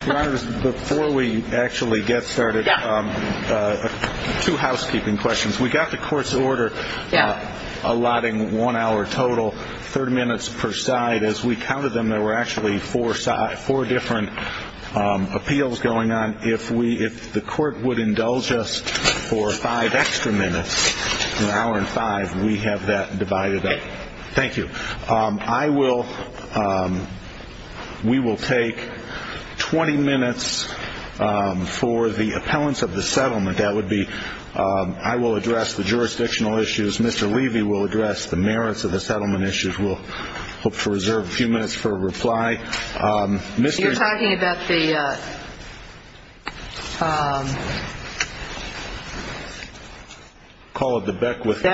Before we actually get started, two housekeeping questions. We got the court's order allotting one hour total, 30 minutes per side. As we counted them, there were actually four different appeals going on. If the court would indulge us for five extra minutes, an hour and five, we have that divided up. Thank you. We will take 20 minutes for the appellants of the settlement. I will address the jurisdictional issues. Mr. Levy will address the merits of the settlement issues. We'll hope to reserve a few minutes for a reply. You're talking about the... Call it the Beckwith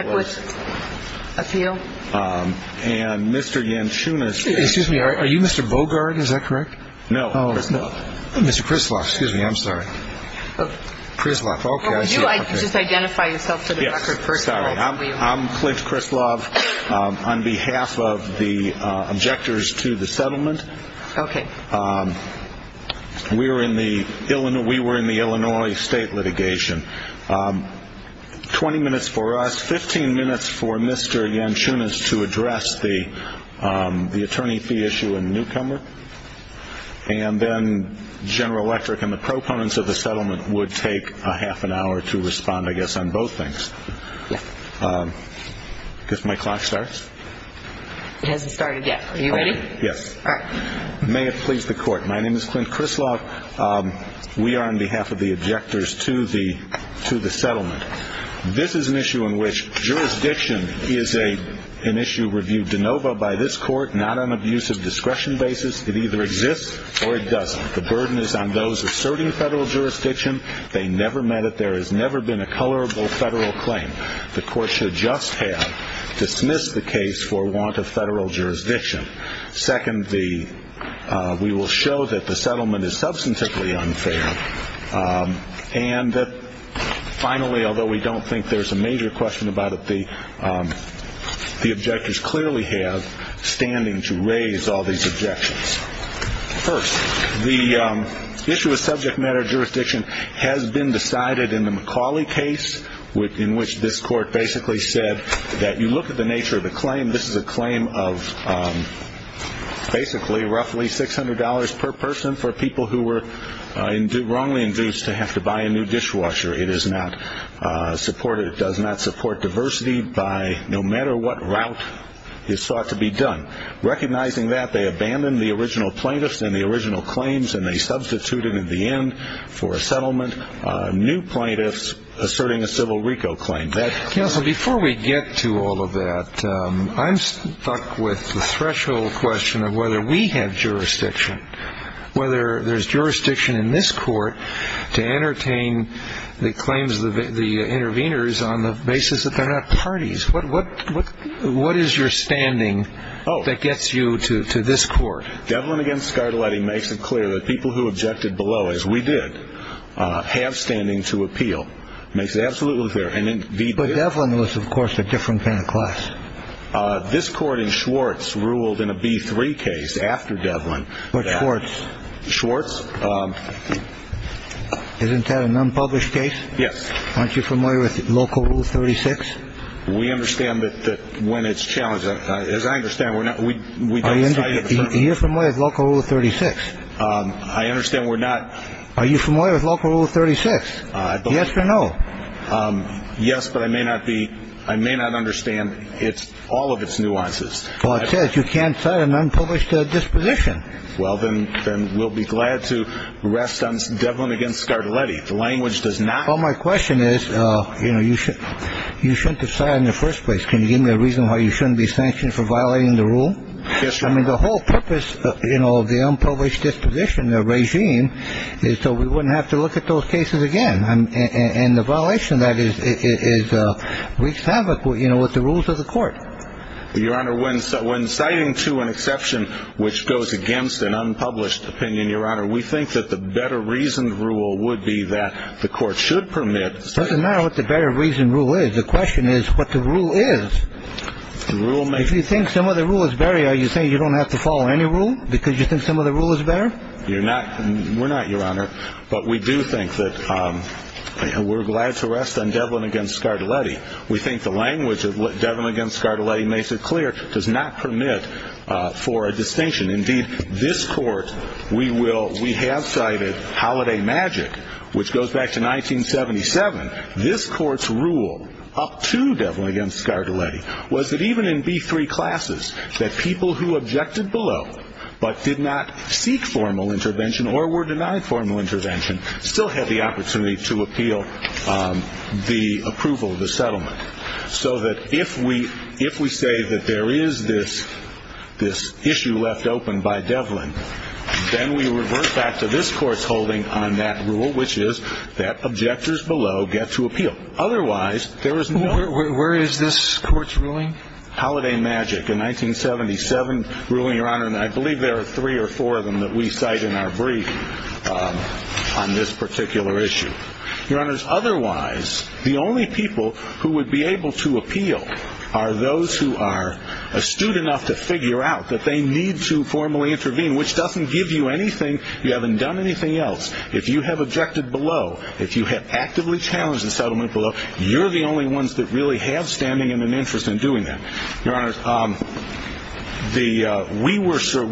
Appeal. And Mr. Yanchunas... Excuse me, are you Mr. Bogart, is that correct? No. Oh, Mr. Krislav, excuse me, I'm sorry. Krislav, okay, I see. Would you just identify yourself for the record, first of all? I'm Flint Krislav. On behalf of the objectors to the settlement, we were in the Illinois state litigation. 20 minutes for us, 15 minutes for Mr. Yanchunas to address the attorney fee issue in Newcomer. And then General Electric and the proponents of the settlement would take a half an hour to respond, I guess, on both things. Yes. I guess my clock starts? It hasn't started yet. Are you ready? Yes. All right. May it please the court, my name is Flint Krislav. We are on behalf of the objectors to the settlement. This is an issue in which jurisdiction is an issue reviewed de novo by this court, not on an abuse of discretion basis. It either exists or it doesn't. The burden is on those asserting federal jurisdiction. They never met it. There has never been a colorable federal claim. The court should just have dismissed the case for want of federal jurisdiction. Second, we will show that the settlement is substantively unfair. And finally, although we don't think there's a major question about it, the objectors clearly have standing to raise all these objections. First, the issue of subject matter jurisdiction has been decided in the McCauley case, in which this court basically said that you look at the nature of the claim, this is a claim of basically roughly $600 per person for people who were wrongly induced to have to buy a new dishwasher. It does not support diversity no matter what route is sought to be done. Recognizing that, they abandoned the original plaintiffs and the original claims, and they substituted at the end for a settlement new plaintiffs asserting a civil RICO claim. Counsel, before we get to all of that, I'm stuck with the threshold question of whether we have jurisdiction, whether there's jurisdiction in this court to entertain the claims of the interveners on the basis that they're not parties. What is your standing that gets you to this court? Devlin against Scardeletti makes it clear that people who objected below, as we did, have standing to appeal. Makes it absolutely clear. And then Devlin was, of course, a different kind of class. This court in Schwartz ruled in a B3 case after Devlin. But Schwartz. Schwartz. Isn't that an unpublished case? Yes. Aren't you familiar with local rule 36? We understand that when it's challenged, as I understand, we're not. We are familiar with local rule 36. I understand we're not. Are you familiar with local rule 36? Yes or no? Yes, but I may not be. I may not understand. It's all of its nuances. Well, it says you can't tell an unpublished disposition. Well, then we'll be glad to rest on Devlin against Scardeletti. The language does not. Well, my question is, you know, you should you shouldn't decide in the first place. Can you give me a reason why you shouldn't be sanctioned for violating the rule? I mean, the whole purpose, you know, of the unpublished disposition, the regime is so we wouldn't have to look at those cases again. And the violation that is is wreaks havoc, you know, with the rules of the court. Your Honor, when someone citing to an exception which goes against an unpublished opinion, Your Honor, we think that the better reason rule would be that the court should permit. Doesn't matter what the better reason rule is. The question is what the rule is. If you think some of the rule is better, are you saying you don't have to follow any rule because you think some of the rule is better? You're not. We're not, Your Honor. But we do think that we're glad to rest on Devlin against Scardeletti. We think the language of Devlin against Scardeletti makes it clear does not permit for a distinction. Indeed, this court, we will we have cited Holiday Magic, which goes back to 1977. This court's rule up to Devlin against Scardeletti was that even in B-3 classes, that people who objected below but did not seek formal intervention or were denied formal intervention still had the opportunity to appeal the approval of the settlement. So that if we if we say that there is this this issue left open by Devlin, then we revert back to this court's holding on that rule, which is that objectors below get to appeal. Otherwise, there is no. Where is this court's ruling? Holiday Magic, a 1977 ruling, Your Honor. And I believe there are three or four of them that we cite in our brief on this particular issue. Your Honor, otherwise, the only people who would be able to appeal are those who are astute enough to figure out that they need to formally intervene. Which doesn't give you anything. You haven't done anything else. If you have objected below, if you have actively challenged the settlement below, you're the only ones that really have standing and an interest in doing that. Your Honor,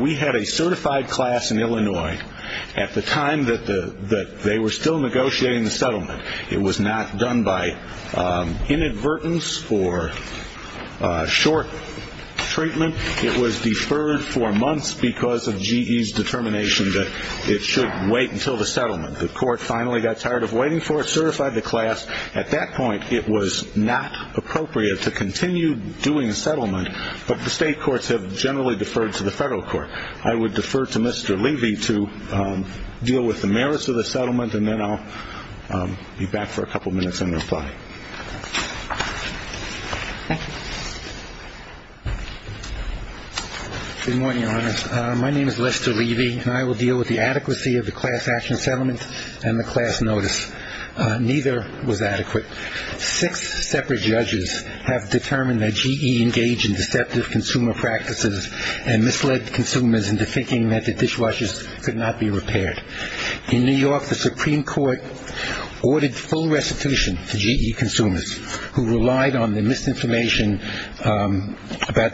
we had a certified class in Illinois at the time that they were still negotiating the settlement. It was not done by inadvertence or short treatment. It was deferred for months because of GE's determination that it should wait until the settlement. The court finally got tired of waiting for it, certified the class. At that point, it was not appropriate to continue doing a settlement. But the state courts have generally deferred to the federal court. I would defer to Mr. Levy to deal with the merits of the settlement. And then I'll be back for a couple minutes and reply. Thank you. Good morning, Your Honor. My name is Lester Levy, and I will deal with the adequacy of the class action settlement and the class notice. Neither was adequate. Six separate judges have determined that GE engaged in deceptive consumer practices and misled consumers into thinking that the dishwashers could not be repaired. In New York, the Supreme Court ordered full restitution to GE consumers who relied on the misinformation about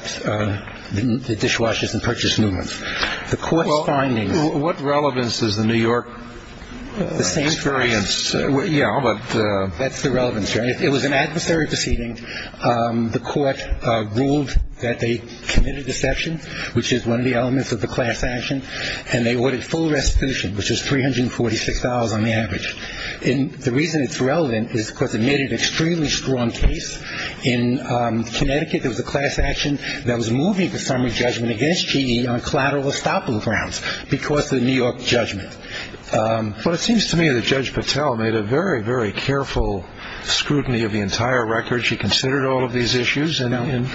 the dishwashers and purchase movements. The court's findings. Well, what relevance does the New York experience? The same. Yeah, but. That's the relevance, Your Honor. It was an adversary proceeding. The court ruled that they committed deception, which is one of the elements of the class action, and they ordered full restitution, which is $346 on the average. And the reason it's relevant is because it made an extremely strong case. In Connecticut, there was a class action that was moving the summary judgment against GE on collateral estoppel grounds because of the New York judgment. Well, it seems to me that Judge Patel made a very, very careful scrutiny of the entire record. She considered all of these issues. And,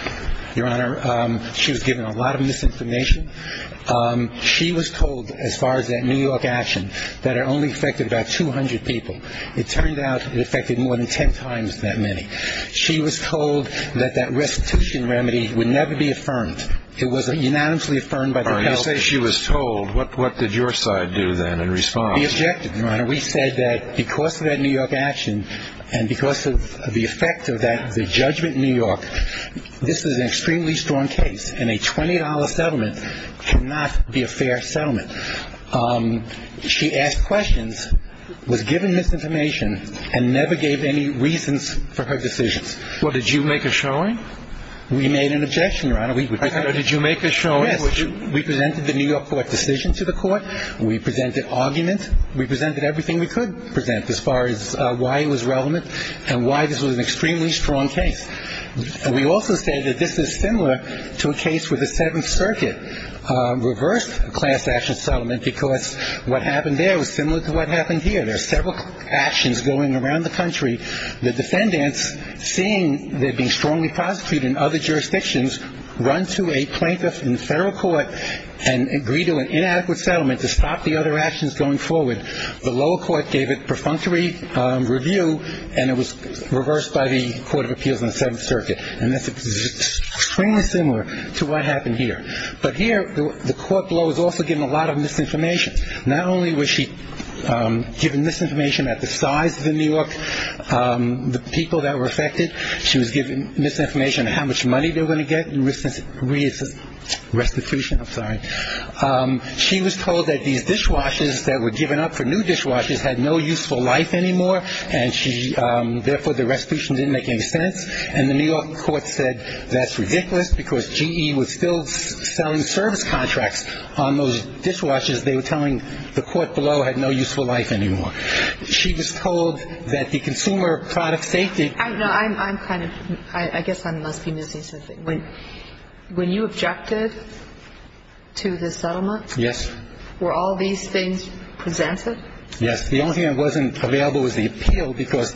Your Honor, she was given a lot of misinformation. She was told, as far as that New York action, that it only affected about 200 people. It turned out it affected more than ten times that many. She was told that that restitution remedy would never be affirmed. It was unanimously affirmed by the health insurance. You say she was told. What did your side do then in response? We objected, Your Honor. We said that because of that New York action and because of the effect of that judgment in New York, this is an extremely strong case, and a $20 settlement cannot be a fair settlement. She asked questions, was given misinformation, and never gave any reasons for her decisions. Well, did you make a showing? We made an objection, Your Honor. Did you make a showing? Yes. We presented the New York court decision to the court. We presented argument. We presented everything we could present as far as why it was relevant and why this was an extremely strong case. We also say that this is similar to a case where the Seventh Circuit reversed a class-action settlement because what happened there was similar to what happened here. There are several actions going around the country. The defendants, seeing they're being strongly prosecuted in other jurisdictions, run to a plaintiff in the federal court and agree to an inadequate settlement to stop the other actions going forward. The lower court gave a perfunctory review, and it was reversed by the Court of Appeals in the Seventh Circuit. And this is extremely similar to what happened here. But here, the court below was also given a lot of misinformation. Not only was she given misinformation at the size of New York, the people that were affected, she was given misinformation on how much money they were going to get in restitution. I'm sorry. She was told that these dishwashers that were given up for new dishwashers had no useful life anymore, and therefore the restitution didn't make any sense. And the New York court said that's ridiculous because GE was still selling service contracts on those dishwashers. They were telling the court below had no useful life anymore. She was told that the consumer product safety. I guess I must be missing something. When you objected to the settlement? Yes. Were all these things presented? Yes. The only thing that wasn't available was the appeal because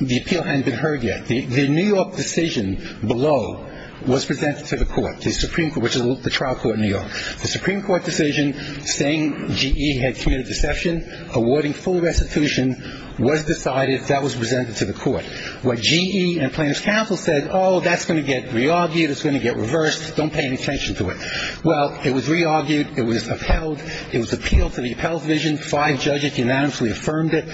the appeal hadn't been heard yet. The New York decision below was presented to the court, the Supreme Court, which is the trial court in New York. The Supreme Court decision saying GE had committed deception, awarding full restitution, was decided. That was presented to the court. What GE and plaintiff's counsel said, oh, that's going to get re-argued. It's going to get reversed. Don't pay any attention to it. Well, it was re-argued. It was upheld. It was appealed to the appellate division. Five judges unanimously affirmed it.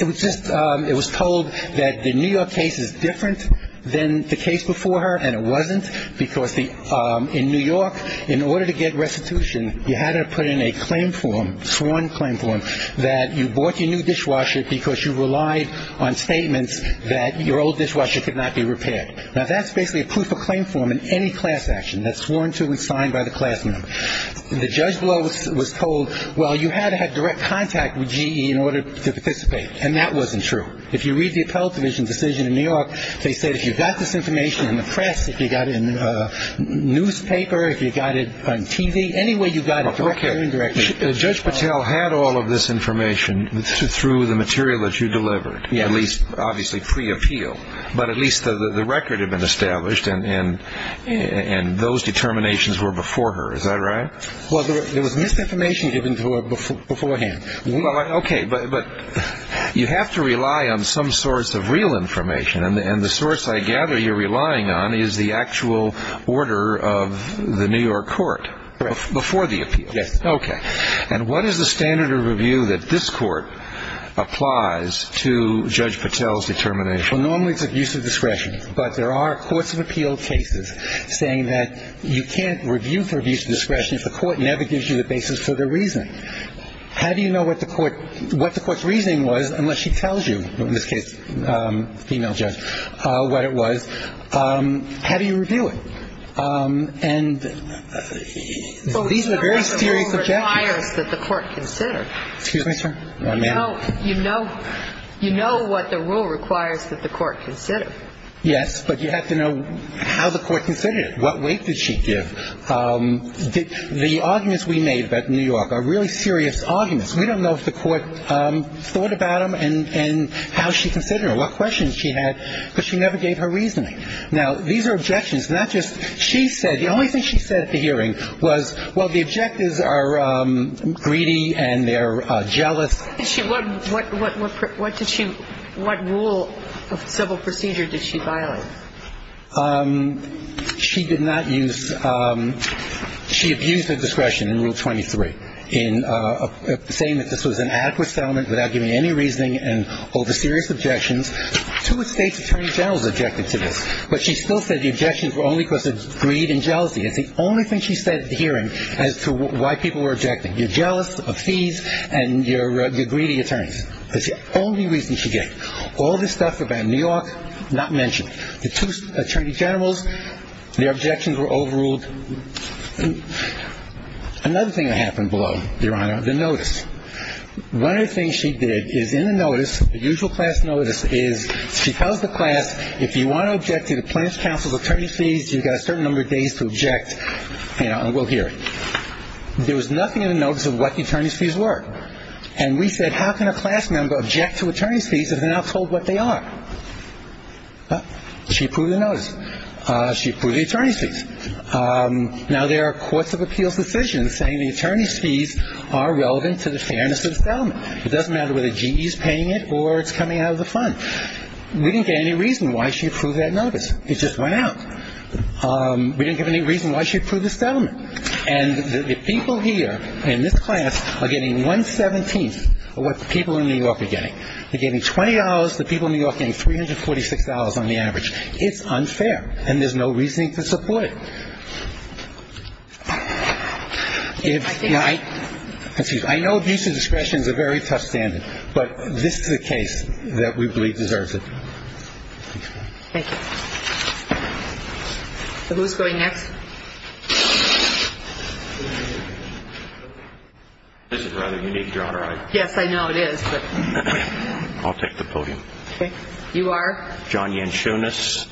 It was told that the New York case is different than the case before her, and it wasn't, because in New York, in order to get restitution, you had to put in a claim form, sworn claim form, that you bought your new dishwasher because you relied on statements that your old dishwasher could not be repaired. Now, that's basically a proof of claim form in any class action. That's sworn to and signed by the class member. The judge below was told, well, you had to have direct contact with GE in order to participate, and that wasn't true. If you read the appellate division decision in New York, they said if you got this information in the press, if you got it in the newspaper, if you got it on TV, any way you got it, directly or indirectly. Judge Patel had all of this information through the material that you delivered, at least obviously pre-appeal, but at least the record had been established, and those determinations were before her. Is that right? Well, there was misinformation given to her beforehand. Okay, but you have to rely on some source of real information, and the source I gather you're relying on is the actual order of the New York court before the appeal. Yes. Okay, and what is the standard of review that this court applies to Judge Patel's determination? Well, normally it's abuse of discretion, but there are courts of appeal cases saying that you can't review for abuse of discretion if the court never gives you the basis for their reasoning. How do you know what the court's reasoning was unless she tells you, in this case the female judge, what it was? How do you review it? And these are very serious objections. Well, you know what the rule requires that the court consider. Excuse me, sir? You know what the rule requires that the court consider. Yes, but you have to know how the court considered it. What weight did she give? The arguments we made about New York are really serious arguments. We don't know if the court thought about them and how she considered them, what questions she had, because she never gave her reasoning. Now, these are objections, not just she said. The only thing she said at the hearing was, well, the objectives are greedy and they're jealous. What did she – what rule of civil procedure did she violate? She did not use – she abused her discretion in Rule 23 in saying that this was an adequate settlement without giving any reasoning and over serious objections. Two estate attorney generals objected to this, but she still said the objections were only because of greed and jealousy. It's the only thing she said at the hearing as to why people were objecting. You're jealous of fees and you're greedy attorneys. That's the only reason she gave. All this stuff about New York, not mentioned. The two attorney generals, their objections were overruled. Another thing that happened below, Your Honor, the notice. One of the things she did is in the notice, the usual class notice, is she tells the class, if you want to object to the plaintiff's counsel's attorney's fees, you've got a certain number of days to object, and we'll hear it. There was nothing in the notice of what the attorney's fees were. And we said, how can a class member object to attorney's fees if they're not told what they are? She approved the attorney's fees. Now, there are courts of appeals decisions saying the attorney's fees are relevant to the fairness of the settlement. It doesn't matter whether GE is paying it or it's coming out of the fund. We didn't get any reason why she approved that notice. It just went out. We didn't get any reason why she approved the settlement. And the people here in this class are getting one-seventeenth of what the people in New York are getting. They're getting $20. The people in New York are getting $346 on the average. It's unfair, and there's no reasoning to support it. Excuse me. I know abuse of discretion is a very tough standard, but this is a case that we believe deserves it. Thank you. Who's going next? This is rather unique, Your Honor. Yes, I know it is. I'll take the podium. Okay. You are? I'm John Yanchunas.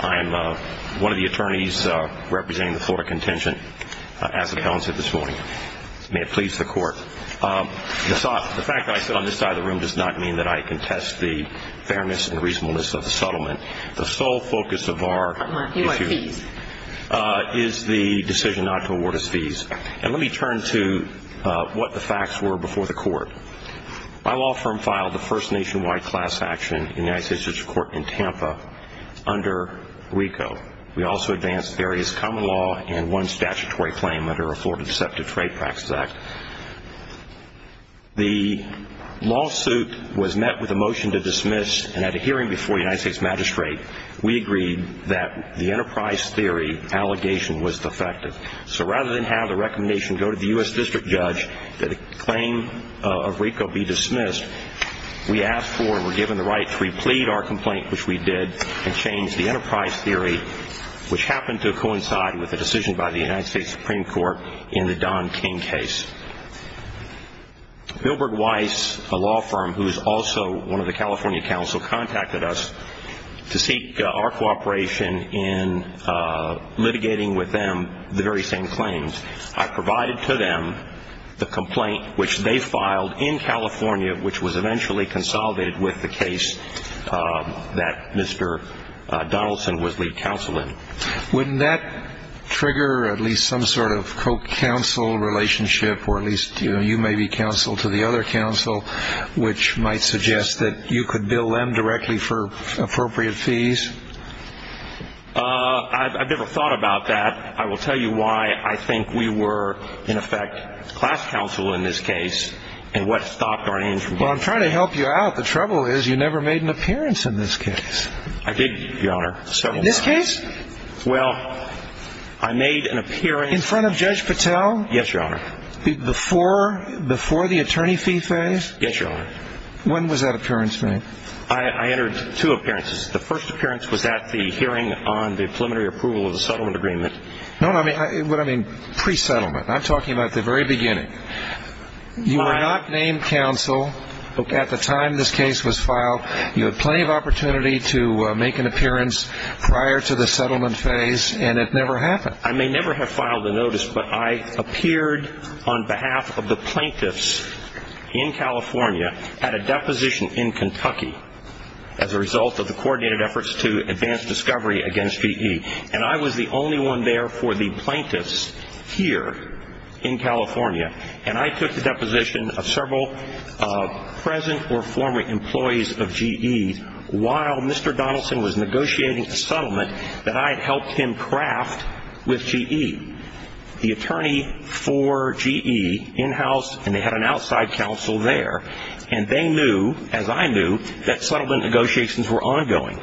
I'm one of the attorneys representing the Florida Contingent as appellants here this morning. May it please the Court. The fact that I sit on this side of the room does not mean that I contest the fairness and reasonableness of the settlement. The sole focus of our issue is the decision not to award us fees. And let me turn to what the facts were before the Court. My law firm filed the first nationwide class action in the United States District Court in Tampa under RICO. We also advanced various common law and one statutory claim under the Florida Deceptive Trade Practices Act. The lawsuit was met with a motion to dismiss, and at a hearing before the United States Magistrate, we agreed that the enterprise theory allegation was defective. So rather than have the recommendation go to the U.S. District Judge that a claim of RICO be dismissed, we asked for and were given the right to replead our complaint, which we did, and change the enterprise theory, which happened to coincide with a decision by the United States Supreme Court in the Don King case. Bilberg Weiss, a law firm who is also one of the California counsel, contacted us to seek our cooperation in litigating with them the very same claims. I provided to them the complaint, which they filed in California, which was eventually consolidated with the case that Mr. Donaldson was lead counsel in. Wouldn't that trigger at least some sort of co-counsel relationship, or at least you may be counsel to the other counsel, which might suggest that you could bill them directly for appropriate fees? I've never thought about that. I will tell you why I think we were, in effect, class counsel in this case, and what stopped our aim from going. Well, I'm trying to help you out. The trouble is you never made an appearance in this case. I did, Your Honor, several times. In this case? Well, I made an appearance. In front of Judge Patel? Yes, Your Honor. Before the attorney fee phase? Yes, Your Honor. When was that appearance made? I entered two appearances. The first appearance was at the hearing on the preliminary approval of the settlement agreement. No, no, what I mean, pre-settlement. I'm talking about the very beginning. You were not named counsel at the time this case was filed. You had plenty of opportunity to make an appearance prior to the settlement phase, and it never happened. I may never have filed a notice, but I appeared on behalf of the plaintiffs in California at a deposition in Kentucky as a result of the coordinated efforts to advance discovery against V.E., and I was the only one there for the plaintiffs here in California, and I took the deposition of several present or former employees of V.E. while Mr. Donaldson was negotiating a settlement that I had helped him craft with V.E. The attorney for V.E. in-house, and they had an outside counsel there, and they knew, as I knew, that settlement negotiations were ongoing.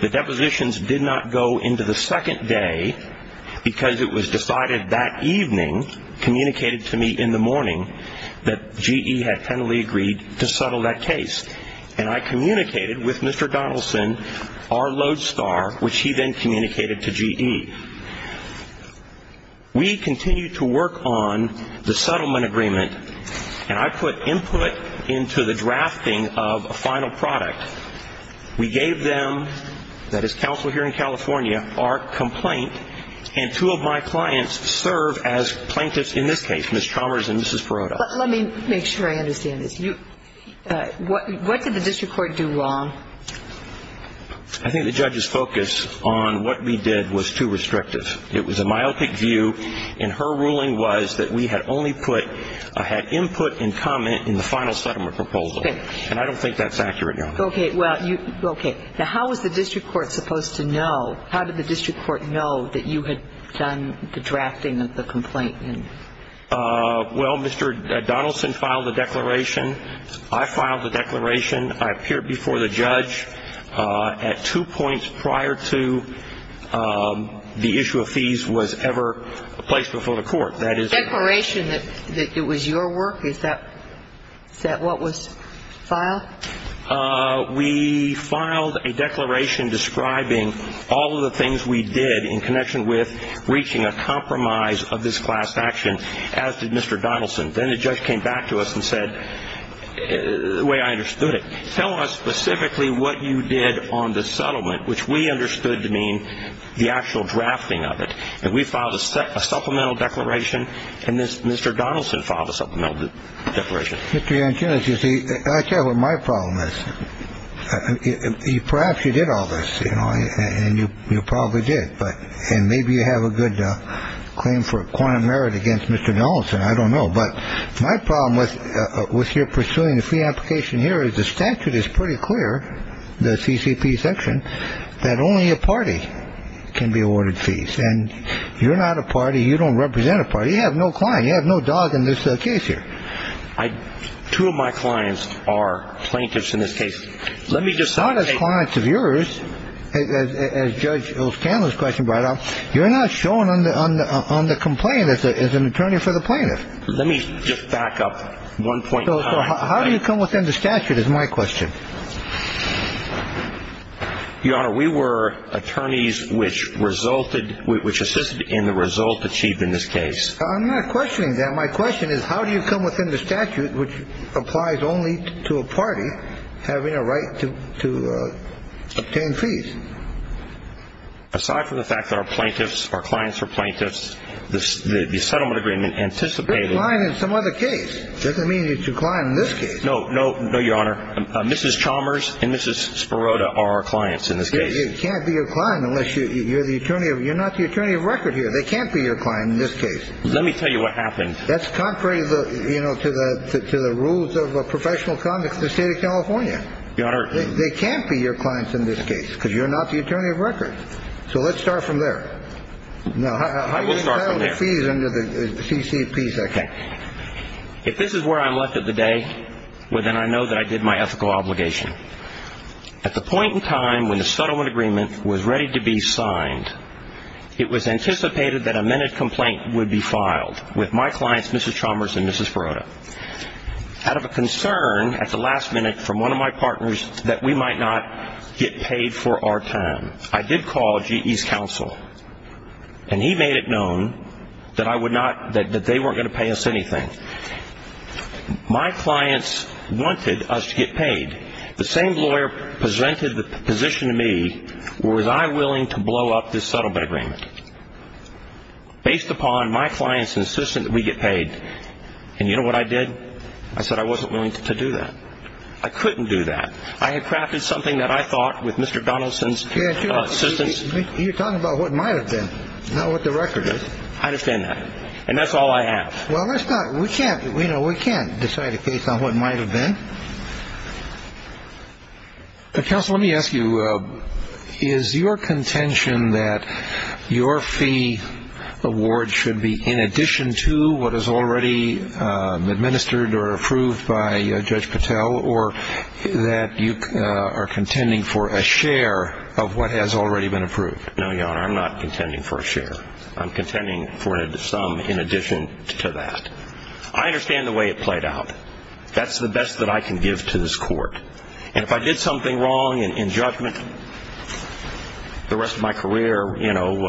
The depositions did not go into the second day because it was decided that evening, communicated to me in the morning, that V.E. had finally agreed to settle that case, and I communicated with Mr. Donaldson, our lodestar, which he then communicated to V.E. We continued to work on the settlement agreement, and I put input into the drafting of a final product. We gave them, that is counsel here in California, our complaint, and two of my clients serve as plaintiffs in this case, Ms. Chalmers and Mrs. Perrotta. But let me make sure I understand this. What did the district court do wrong? I think the judge's focus on what we did was too restrictive. It was a myopic view, and her ruling was that we had only put, had input and comment in the final settlement proposal, and I don't think that's accurate, Your Honor. Okay. Now, how was the district court supposed to know, how did the district court know that you had done the drafting of the complaint? Well, Mr. Donaldson filed the declaration. I filed the declaration. I appeared before the judge at two points prior to the issue of fees was ever placed before the court. Declaration that it was your work? Is that what was filed? We filed a declaration describing all of the things we did in connection with reaching a compromise of this class action, as did Mr. Donaldson. Then the judge came back to us and said, the way I understood it, tell us specifically what you did on the settlement, which we understood to mean the actual drafting of it. And we filed a supplemental declaration. And Mr. Donaldson filed a supplemental declaration. Mr. Yankunis, you see, I tell you what my problem is. Perhaps you did all this, you know, and you probably did. And maybe you have a good claim for quantum merit against Mr. Donaldson. I don't know. But my problem with your pursuing the fee application here is the statute is pretty clear, the CCP section, that only a party can be awarded fees. And you're not a party. You don't represent a party. You have no client. You have no dog in this case here. I two of my clients are plaintiffs in this case. Let me just not as clients of yours. As Judge O'Scanlon's question brought up, you're not showing on the on the on the complaint as an attorney for the plaintiff. Let me just back up one point. How do you come within the statute is my question. Your Honor, we were attorneys which resulted which assisted in the result achieved in this case. I'm not questioning that. My question is, how do you come within the statute which applies only to a party having a right to to obtain fees? Aside from the fact that our plaintiffs, our clients are plaintiffs, the settlement agreement anticipated. In some other case, doesn't mean you decline in this case. No, no. No, Your Honor. Mrs. Chalmers and Mrs. Sparota are our clients in this case. It can't be your client unless you're the attorney. You're not the attorney of record here. They can't be your client in this case. Let me tell you what happened. That's contrary, you know, to the to the rules of professional conduct in the state of California. Your Honor, they can't be your clients in this case because you're not the attorney of record. So let's start from there. No, I will start from there. How do you settle the fees under the C.C.P. section? If this is where I'm left at the day, well, then I know that I did my ethical obligation. At the point in time when the settlement agreement was ready to be signed, it was anticipated that a minute complaint would be filed with my clients, Mrs. Chalmers and Mrs. Sparota, out of a concern at the last minute from one of my partners that we might not get paid for our time. I did call GE's counsel, and he made it known that I would not, that they weren't going to pay us anything. My clients wanted us to get paid. The same lawyer presented the position to me, was I willing to blow up this settlement agreement? Based upon my client's insistence that we get paid. And you know what I did? I said I wasn't willing to do that. I couldn't do that. I had crafted something that I thought with Mr. Donaldson's assistance. You're talking about what might have been, not what the record is. I understand that. And that's all I have. Well, let's not, we can't, you know, we can't decide a case on what might have been. Counsel, let me ask you, is your contention that your fee award should be in addition to what is already administered or approved by Judge Patel, or that you are contending for a share of what has already been approved? No, Your Honor, I'm not contending for a share. I'm contending for some in addition to that. I understand the way it played out. That's the best that I can give to this court. And if I did something wrong in judgment the rest of my career, you know,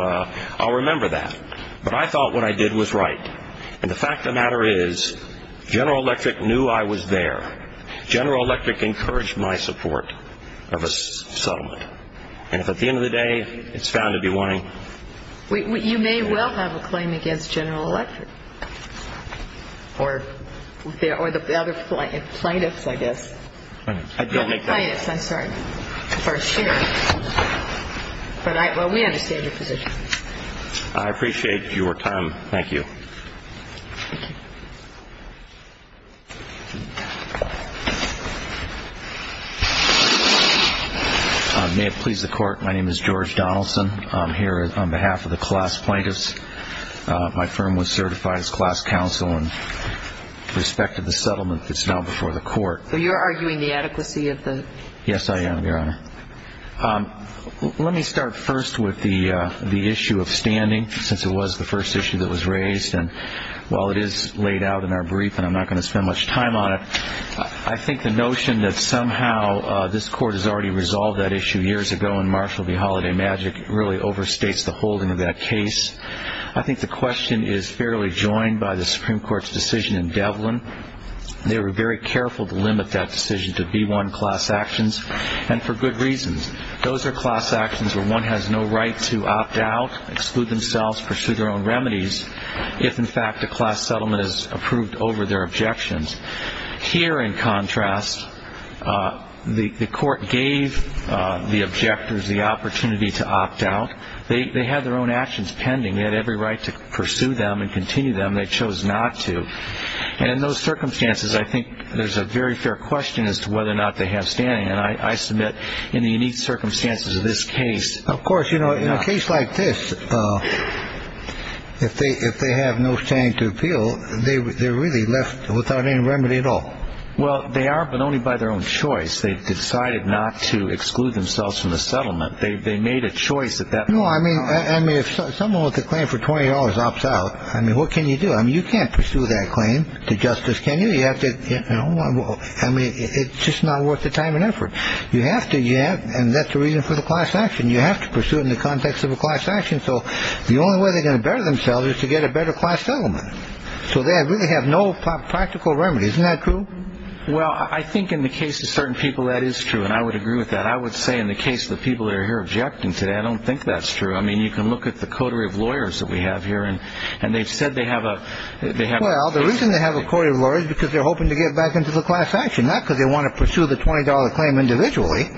I'll remember that. But I thought what I did was right. And the fact of the matter is, General Electric knew I was there. General Electric encouraged my support of a settlement. And if at the end of the day it's found to be wanting to do it again. You may well have a claim against General Electric or the other plaintiffs, I guess. I don't make that claim. The plaintiffs, I'm sorry. But we understand your position. I appreciate your time. Thank you. Thank you. May it please the Court, my name is George Donaldson. I'm here on behalf of the class plaintiffs. My firm was certified as class counsel in respect of the settlement that's now before the court. So you're arguing the adequacy of the? Yes, I am, Your Honor. Let me start first with the issue of standing, since it was the first issue that was raised. And while it is laid out in our brief and I'm not going to spend much time on it, I think the notion that somehow this court has already resolved that issue years ago and Marshall v. Holiday Magic really overstates the holding of that case. I think the question is fairly joined by the Supreme Court's decision in Devlin. They were very careful to limit that decision to B-1 class actions. And for good reasons. Those are class actions where one has no right to opt out, exclude themselves, pursue their own remedies if, in fact, a class settlement is approved over their objections. Here, in contrast, the court gave the objectors the opportunity to opt out. They had their own actions pending. They had every right to pursue them and continue them. They chose not to. And in those circumstances, I think there's a very fair question as to whether or not they have standing. And I submit, in the unique circumstances of this case. Of course, you know, in a case like this, if they have no standing to appeal, they're really left without any remedy at all. Well, they are, but only by their own choice. They've decided not to exclude themselves from the settlement. They made a choice at that point. No, I mean, if someone with a claim for $20 opts out, I mean, what can you do? I mean, you can't pursue that claim to justice, can you? I mean, it's just not worth the time and effort. You have to. And that's the reason for the class action. You have to pursue it in the context of a class action. So the only way they're going to better themselves is to get a better class settlement. So they really have no practical remedy. Isn't that true? Well, I think in the case of certain people, that is true. And I would agree with that. I would say in the case of the people that are here objecting today, I don't think that's true. I mean, you can look at the coterie of lawyers that we have here. And they've said they have a. Well, the reason they have a coterie of lawyers is because they're hoping to get back into the class action, not because they want to pursue the $20 claim individually.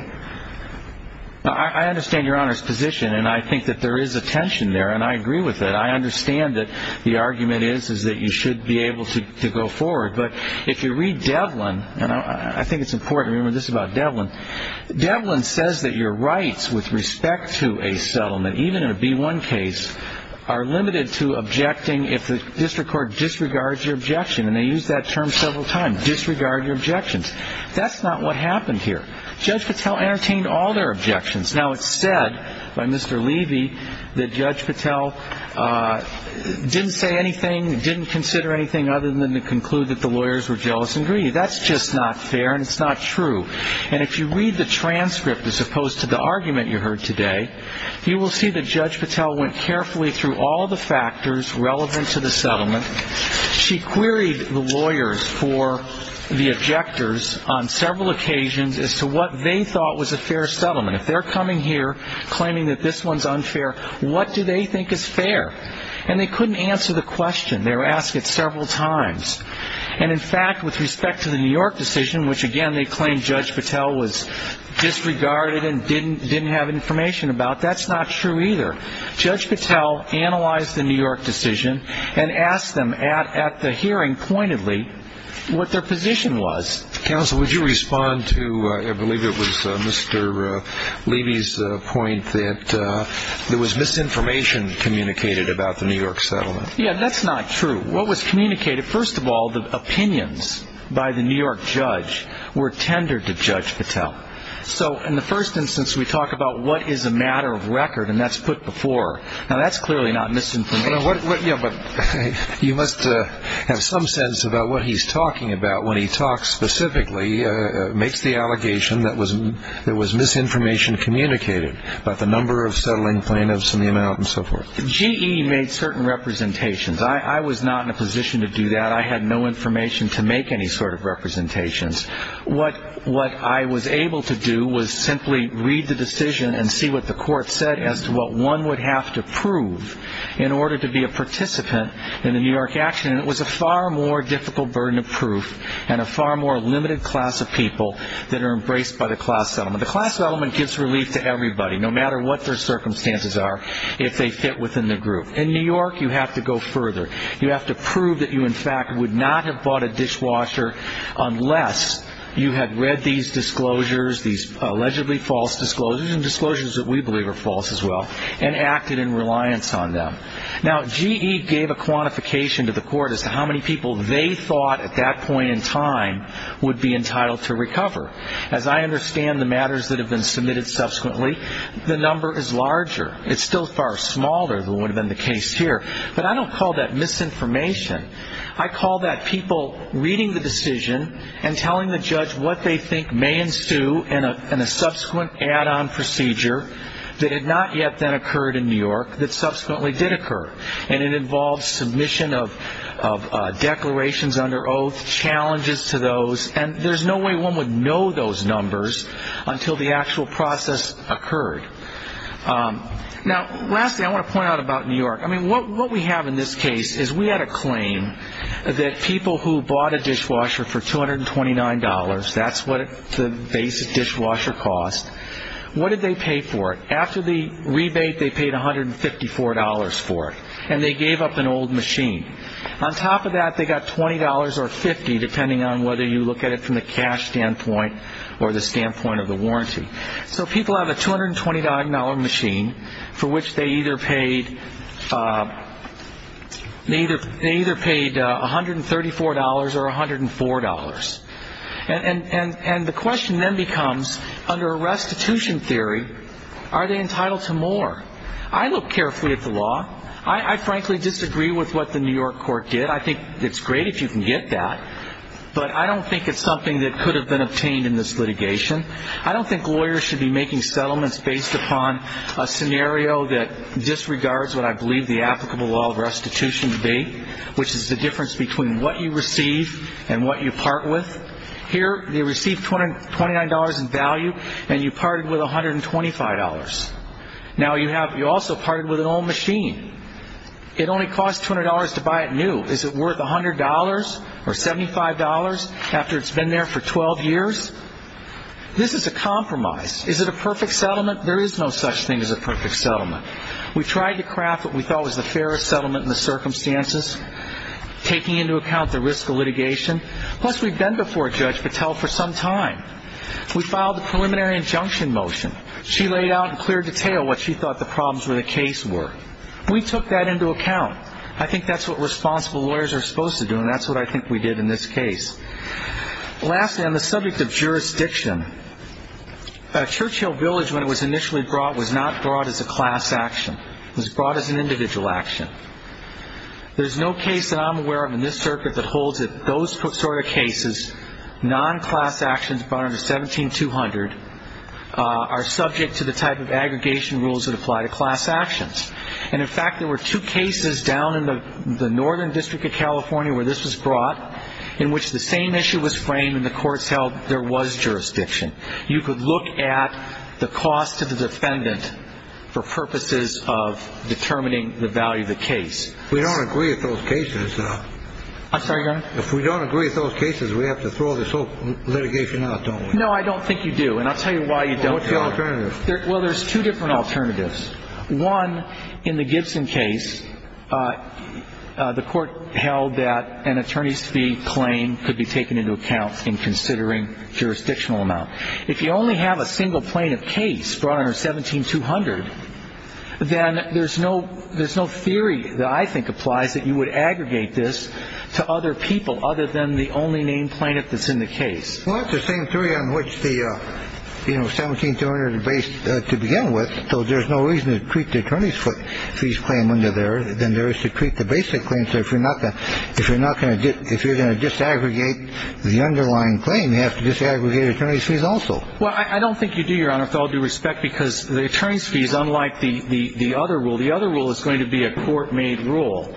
I understand Your Honor's position. And I think that there is a tension there. And I agree with it. I understand that the argument is that you should be able to go forward. But if you read Devlin, and I think it's important to remember this about Devlin, Devlin says that your rights with respect to a settlement, even in a B-1 case, are limited to objecting if the district court disregards your objection. And they use that term several times, disregard your objections. That's not what happened here. Judge Patel entertained all their objections. Now, it's said by Mr. Levy that Judge Patel didn't say anything, didn't consider anything other than to conclude that the lawyers were jealous and greedy. That's just not fair, and it's not true. And if you read the transcript as opposed to the argument you heard today, you will see that Judge Patel went carefully through all the factors relevant to the settlement. She queried the lawyers for the objectors on several occasions as to what they thought was a fair settlement. If they're coming here claiming that this one's unfair, what do they think is fair? And they couldn't answer the question. They were asked it several times. And, in fact, with respect to the New York decision, which, again, they claimed Judge Patel was disregarded and didn't have information about, that's not true either. Judge Patel analyzed the New York decision and asked them at the hearing pointedly what their position was. Counsel, would you respond to, I believe it was Mr. Levy's point, that there was misinformation communicated about the New York settlement? Yeah, that's not true. What was communicated? First of all, the opinions by the New York judge were tendered to Judge Patel. So in the first instance, we talk about what is a matter of record, and that's put before. Now, that's clearly not misinformation. You must have some sense about what he's talking about when he talks specifically, makes the allegation that there was misinformation communicated about the number of settling plaintiffs and the amount and so forth. GE made certain representations. I was not in a position to do that. I had no information to make any sort of representations. What I was able to do was simply read the decision and see what the court said as to what one would have to prove in order to be a participant in the New York action. And it was a far more difficult burden of proof and a far more limited class of people that are embraced by the class settlement. The class settlement gives relief to everybody, no matter what their circumstances are, if they fit within the group. In New York, you have to go further. You have to prove that you, in fact, would not have bought a dishwasher unless you had read these disclosures, these allegedly false disclosures, and disclosures that we believe are false as well, and acted in reliance on them. Now, GE gave a quantification to the court as to how many people they thought at that point in time would be entitled to recover. As I understand the matters that have been submitted subsequently, the number is larger. It's still far smaller than would have been the case here. But I don't call that misinformation. I call that people reading the decision and telling the judge what they think may ensue in a subsequent add-on procedure that had not yet then occurred in New York that subsequently did occur. And it involves submission of declarations under oath, challenges to those, and there's no way one would know those numbers until the actual process occurred. Now, lastly, I want to point out about New York. I mean, what we have in this case is we had a claim that people who bought a dishwasher for $229, that's what the basic dishwasher cost, what did they pay for it? After the rebate, they paid $154 for it, and they gave up an old machine. On top of that, they got $20 or $50, depending on whether you look at it from the cash standpoint or the standpoint of the warranty. So people have a $229 machine for which they either paid $134 or $104. And the question then becomes, under a restitution theory, are they entitled to more? I look carefully at the law. I frankly disagree with what the New York court did. I think it's great if you can get that, but I don't think it's something that could have been obtained in this litigation. I don't think lawyers should be making settlements based upon a scenario that disregards what I believe the applicable law of restitution to be, which is the difference between what you receive and what you part with. Here they received $229 in value, and you parted with $125. Now you also parted with an old machine. It only cost $200 to buy it new. Is it worth $100 or $75 after it's been there for 12 years? This is a compromise. Is it a perfect settlement? There is no such thing as a perfect settlement. We tried to craft what we thought was the fairest settlement in the circumstances, taking into account the risk of litigation. Plus, we've been before Judge Patel for some time. We filed the preliminary injunction motion. She laid out in clear detail what she thought the problems with the case were. We took that into account. I think that's what responsible lawyers are supposed to do, and that's what I think we did in this case. Lastly, on the subject of jurisdiction, Churchill Village, when it was initially brought, was not brought as a class action. It was brought as an individual action. There's no case that I'm aware of in this circuit that holds that those sort of cases, non-class actions brought under 17-200, are subject to the type of aggregation rules that apply to class actions. And, in fact, there were two cases down in the Northern District of California where this was brought in which the same issue was framed and the courts held there was jurisdiction. You could look at the cost to the defendant for purposes of determining the value of the case. We don't agree with those cases. I'm sorry, Your Honor? If we don't agree with those cases, we have to throw this whole litigation out, don't we? No, I don't think you do, and I'll tell you why you don't. What's the alternative? Well, there's two different alternatives. One, in the Gibson case, the court held that an attorney's fee claim could be taken into account in considering jurisdictional amount. If you only have a single plaintiff case brought under 17-200, then there's no theory that I think applies that you would aggregate this to other people other than the only named plaintiff that's in the case. Well, it's the same theory on which the 17-200 is based to begin with, so there's no reason to treat the attorney's fees claim under there than there is to treat the basic claim. So if you're going to disaggregate the underlying claim, you have to disaggregate attorney's fees also. Well, I don't think you do, Your Honor, with all due respect, because the attorney's fee is unlike the other rule. The other rule is going to be a court-made rule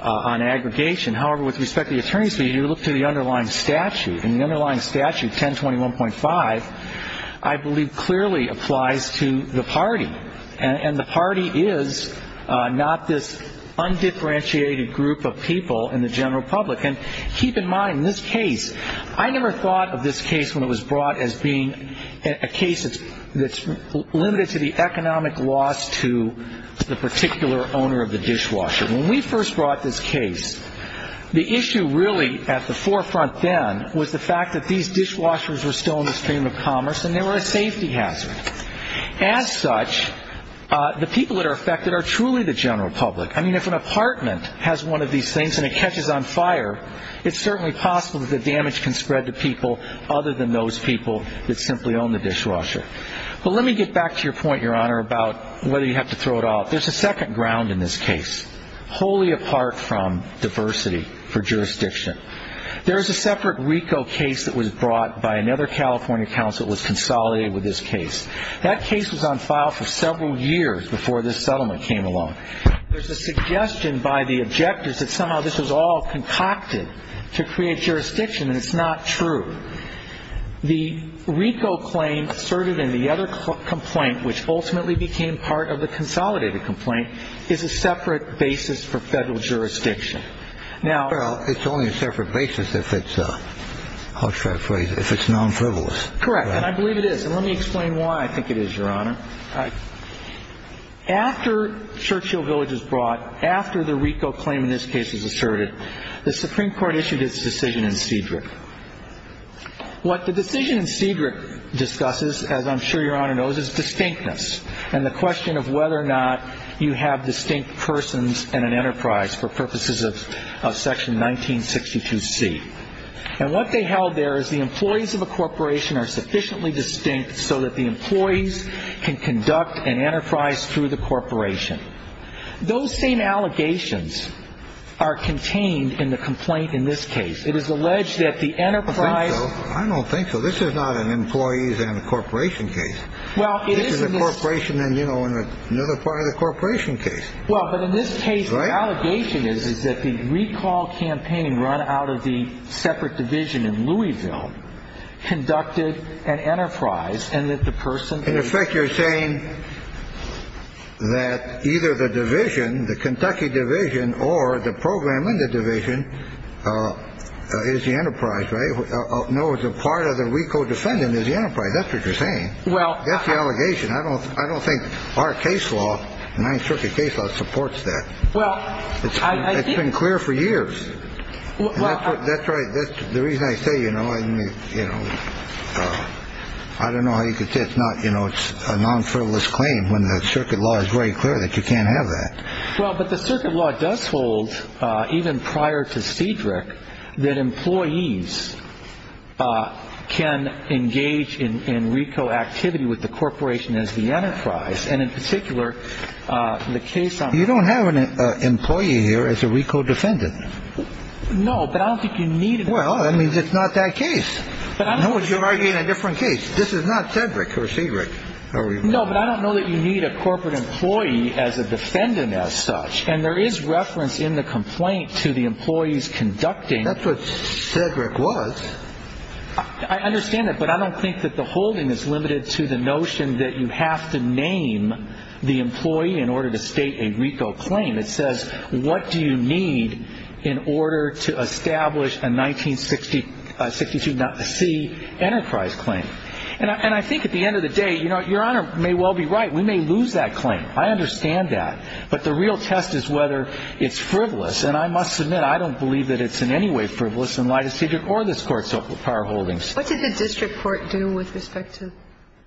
on aggregation. However, with respect to the attorney's fee, you look to the underlying statute, and the underlying statute, 1021.5, I believe clearly applies to the party, and the party is not this undifferentiated group of people in the general public. And keep in mind, this case, I never thought of this case when it was brought as being a case that's limited to the economic loss to the particular owner of the dishwasher. When we first brought this case, the issue really at the forefront then was the fact that these dishwashers were still in the stream of commerce, and they were a safety hazard. As such, the people that are affected are truly the general public. I mean, if an apartment has one of these things and it catches on fire, it's certainly possible that the damage can spread to people other than those people that simply own the dishwasher. But let me get back to your point, Your Honor, about whether you have to throw it out. There's a second ground in this case, wholly apart from diversity for jurisdiction. There is a separate RICO case that was brought by another California counsel that was consolidated with this case. That case was on file for several years before this settlement came along. There's a suggestion by the objectors that somehow this was all concocted to create jurisdiction, and it's not true. The RICO claim asserted in the other complaint, which ultimately became part of the consolidated complaint, is a separate basis for federal jurisdiction. Now ‑‑ Well, it's only a separate basis if it's a ‑‑ I'll try to phrase it, if it's nonfrivolous. Correct, and I believe it is. And let me explain why I think it is, Your Honor. After Churchill Village was brought, after the RICO claim in this case was asserted, the Supreme Court issued its decision in Cedric. What the decision in Cedric discusses, as I'm sure Your Honor knows, is distinctness and the question of whether or not you have distinct persons in an enterprise for purposes of section 1962C. And what they held there is the employees of a corporation are sufficiently distinct so that the employees can conduct an enterprise through the corporation. Those same allegations are contained in the complaint in this case. It is alleged that the enterprise ‑‑ I don't think so. This is not an employees and a corporation case. This is a corporation and, you know, another part of the corporation case. Well, but in this case, the allegation is that the recall campaign run out of the separate division in Louisville conducted an enterprise and that the person ‑‑ In effect, you're saying that either the division, the Kentucky division, or the program in the division is the enterprise, right? No, it's a part of the RICO defendant is the enterprise. That's what you're saying. Well ‑‑ That's the allegation. I don't think our case law, the Ninth Circuit case law, supports that. Well, I ‑‑ It's been clear for years. That's right. The reason I say, you know, I don't know how you could say it's not, you know, it's a non‑frivolous claim when the circuit law is very clear that you can't have that. Well, but the circuit law does hold, even prior to Cedric, that employees can engage in RICO activity with the corporation as the enterprise. And in particular, the case on ‑‑ You don't have an employee here as a RICO defendant. No, but I don't think you need ‑‑ Well, that means it's not that case. No, but you're arguing a different case. This is not Cedric or Cedric. No, but I don't know that you need a corporate employee as a defendant as such. And there is reference in the complaint to the employees conducting ‑‑ That's what Cedric was. I understand that, but I don't think that the holding is limited to the notion that you have to name the employee in order to state a RICO claim. It says, what do you need in order to establish a 1962 C enterprise claim? And I think at the end of the day, you know, Your Honor may well be right. We may lose that claim. I understand that. But the real test is whether it's frivolous. And I must admit, I don't believe that it's in any way frivolous in light of Cedric or this Court's power holdings. What did the district court do with respect to ‑‑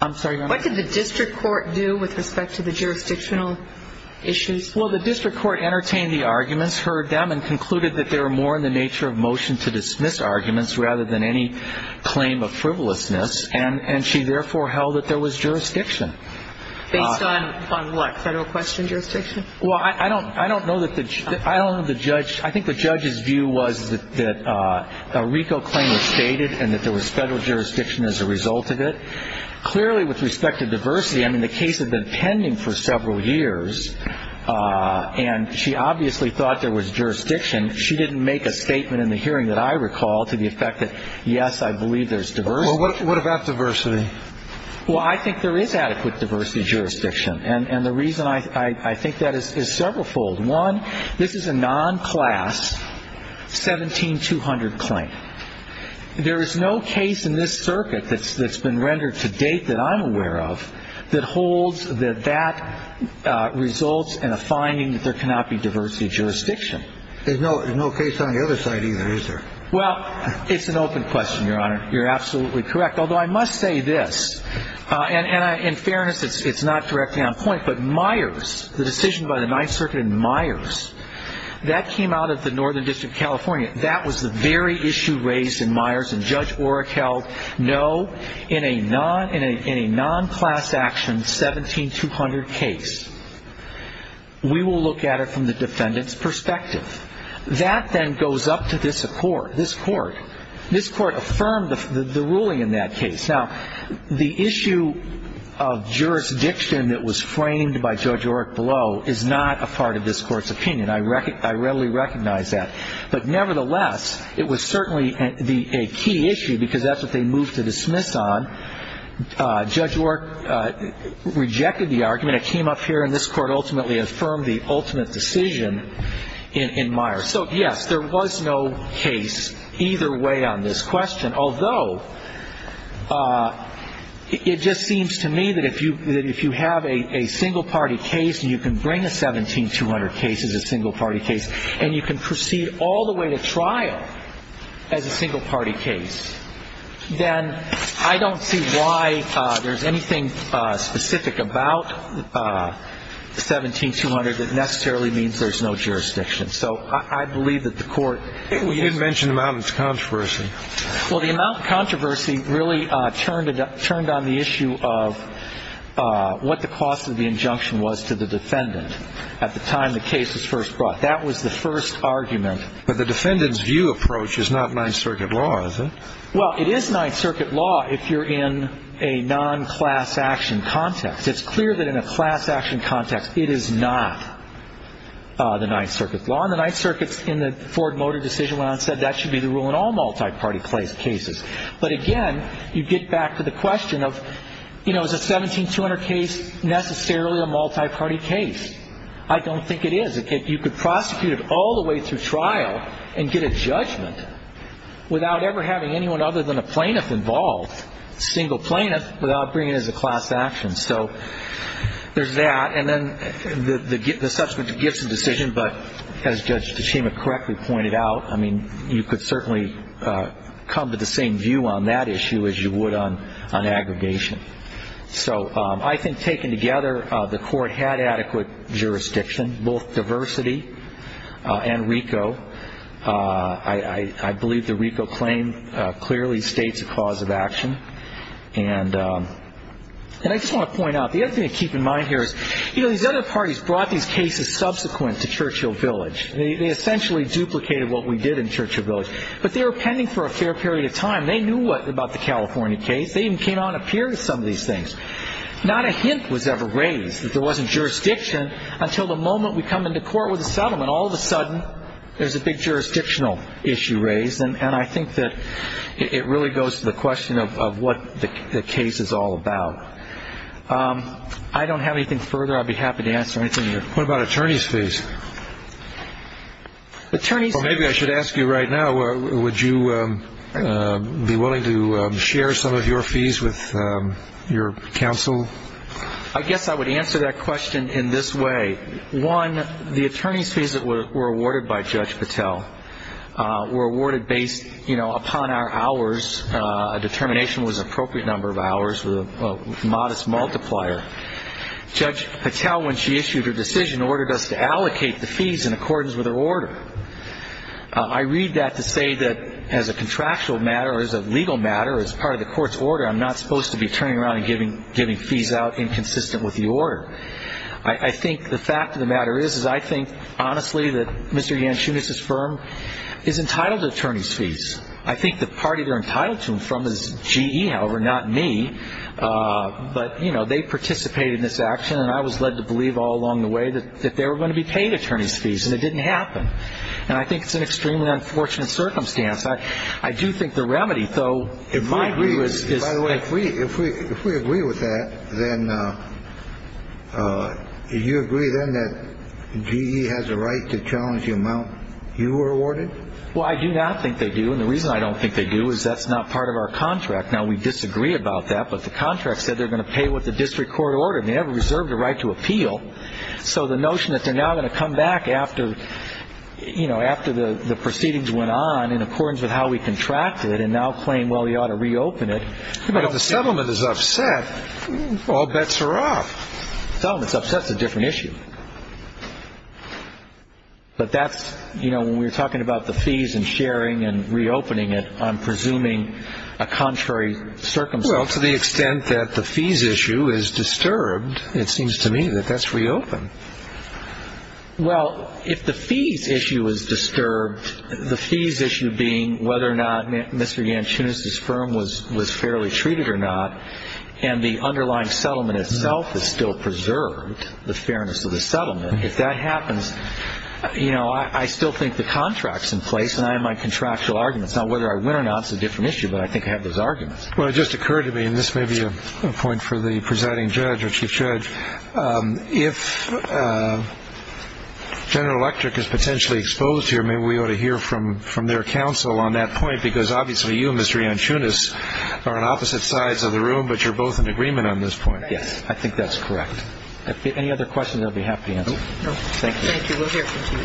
I'm sorry, Your Honor. What did the district court do with respect to the jurisdictional issues? Well, the district court entertained the arguments, heard them, and concluded that they were more in the nature of motion to dismiss arguments rather than any claim of frivolousness. And she therefore held that there was jurisdiction. Based on what? Federal question jurisdiction? Well, I don't know that the ‑‑ I don't know the judge ‑‑ I think the judge's view was that a RICO claim was stated and that there was federal jurisdiction as a result of it. Clearly, with respect to diversity, I mean, the case had been pending for several years, and she obviously thought there was jurisdiction. She didn't make a statement in the hearing that I recall to the effect that, yes, I believe there's diversity. Well, what about diversity? Well, I think there is adequate diversity jurisdiction. And the reason I think that is severalfold. One, this is a non‑class 17200 claim. There is no case in this circuit that's been rendered to date that I'm aware of that holds that that results in a finding that there cannot be diversity jurisdiction. There's no case on the other side either, is there? Well, it's an open question, Your Honor. You're absolutely correct. Although I must say this. And in fairness, it's not directly on point, but Myers, the decision by the Ninth Circuit in Myers, that came out of the Northern District of California. That was the very issue raised in Myers. And Judge Oreck held, no, in a non‑class action 17200 case, we will look at it from the defendant's perspective. That then goes up to this court. This court affirmed the ruling in that case. Now, the issue of jurisdiction that was framed by Judge Oreck below is not a part of this court's opinion. I readily recognize that. But nevertheless, it was certainly a key issue because that's what they moved to dismiss on. Judge Oreck rejected the argument. It came up here, and this court ultimately affirmed the ultimate decision in Myers. So, yes, there was no case either way on this question, although it just seems to me that if you have a single‑party case and you can bring a 17200 case as a single‑party case and you can proceed all the way to trial as a single‑party case, then I don't see why there's anything specific about 17200 that necessarily means there's no jurisdiction. So I believe that the court ‑‑ You didn't mention the amount of controversy. Well, the amount of controversy really turned on the issue of what the cost of the injunction was to the defendant at the time the case was first brought. That was the first argument. But the defendant's view approach is not Ninth Circuit law, is it? Well, it is Ninth Circuit law if you're in a non‑class action context. It's clear that in a class action context it is not the Ninth Circuit law. And the Ninth Circuit, in the Ford Motor decision, went on to say that should be the rule in all multi‑party cases. But, again, you get back to the question of, you know, is a 17200 case necessarily a multi‑party case? I don't think it is. You could prosecute it all the way through trial and get a judgment without ever having anyone other than a plaintiff involved, a single plaintiff, without bringing it as a class action. So there's that. And then the subsequent gifts of decision, but as Judge Tachema correctly pointed out, I mean, you could certainly come to the same view on that issue as you would on aggregation. So I think taken together, the court had adequate jurisdiction, both diversity and RICO. I believe the RICO claim clearly states a cause of action. And I just want to point out, the other thing to keep in mind here is, you know, these other parties brought these cases subsequent to Churchill Village. They essentially duplicated what we did in Churchill Village. But they were pending for a fair period of time. They knew about the California case. They even came out and appeared to some of these things. Not a hint was ever raised that there wasn't jurisdiction until the moment we come into court with a settlement. All of a sudden, there's a big jurisdictional issue raised. And I think that it really goes to the question of what the case is all about. I don't have anything further. I'd be happy to answer anything you have. What about attorney's fees? Maybe I should ask you right now, would you be willing to share some of your fees with your counsel? I guess I would answer that question in this way. One, the attorney's fees that were awarded by Judge Patel were awarded based, you know, upon our hours. A determination was an appropriate number of hours with a modest multiplier. Judge Patel, when she issued her decision, ordered us to allocate the fees in accordance with her order. I read that to say that as a contractual matter or as a legal matter or as part of the court's order, I'm not supposed to be turning around and giving fees out inconsistent with the order. I think the fact of the matter is, is I think, honestly, that Mr. Yanchunis's firm is entitled to attorney's fees. I think the party they're entitled to them from is GE, however, not me. But, you know, they participated in this action, and I was led to believe all along the way that they were going to be paid attorney's fees, and it didn't happen, and I think it's an extremely unfortunate circumstance. I do think the remedy, though, in my view, is by the way. If we agree with that, then you agree then that GE has a right to challenge the amount you were awarded? Well, I do not think they do, and the reason I don't think they do is that's not part of our contract. Now, we disagree about that, but the contract said they're going to pay what the district court ordered. They never reserved a right to appeal, so the notion that they're now going to come back after, you know, after the proceedings went on in accordance with how we contracted and now claim, well, you ought to reopen it. But if the settlement is upset, all bets are off. If the settlement is upset, it's a different issue. But that's, you know, when we're talking about the fees and sharing and reopening it, I'm presuming a contrary circumstance. Well, to the extent that the fees issue is disturbed, it seems to me that that's reopened. Well, if the fees issue is disturbed, the fees issue being whether or not Mr. Yanchunis's firm was fairly treated or not, and the underlying settlement itself is still preserved, the fairness of the settlement, if that happens, you know, I still think the contract's in place and I have my contractual arguments. Now, whether I win or not is a different issue, but I think I have those arguments. Well, it just occurred to me, and this may be a point for the presiding judge or chief judge, if General Electric is potentially exposed here, maybe we ought to hear from their counsel on that point, because obviously you, Mr. Yanchunis, are on opposite sides of the room, but you're both in agreement on this point. Yes. I think that's correct. Any other questions, I'll be happy to answer. No. Thank you. Thank you. We'll hear from you.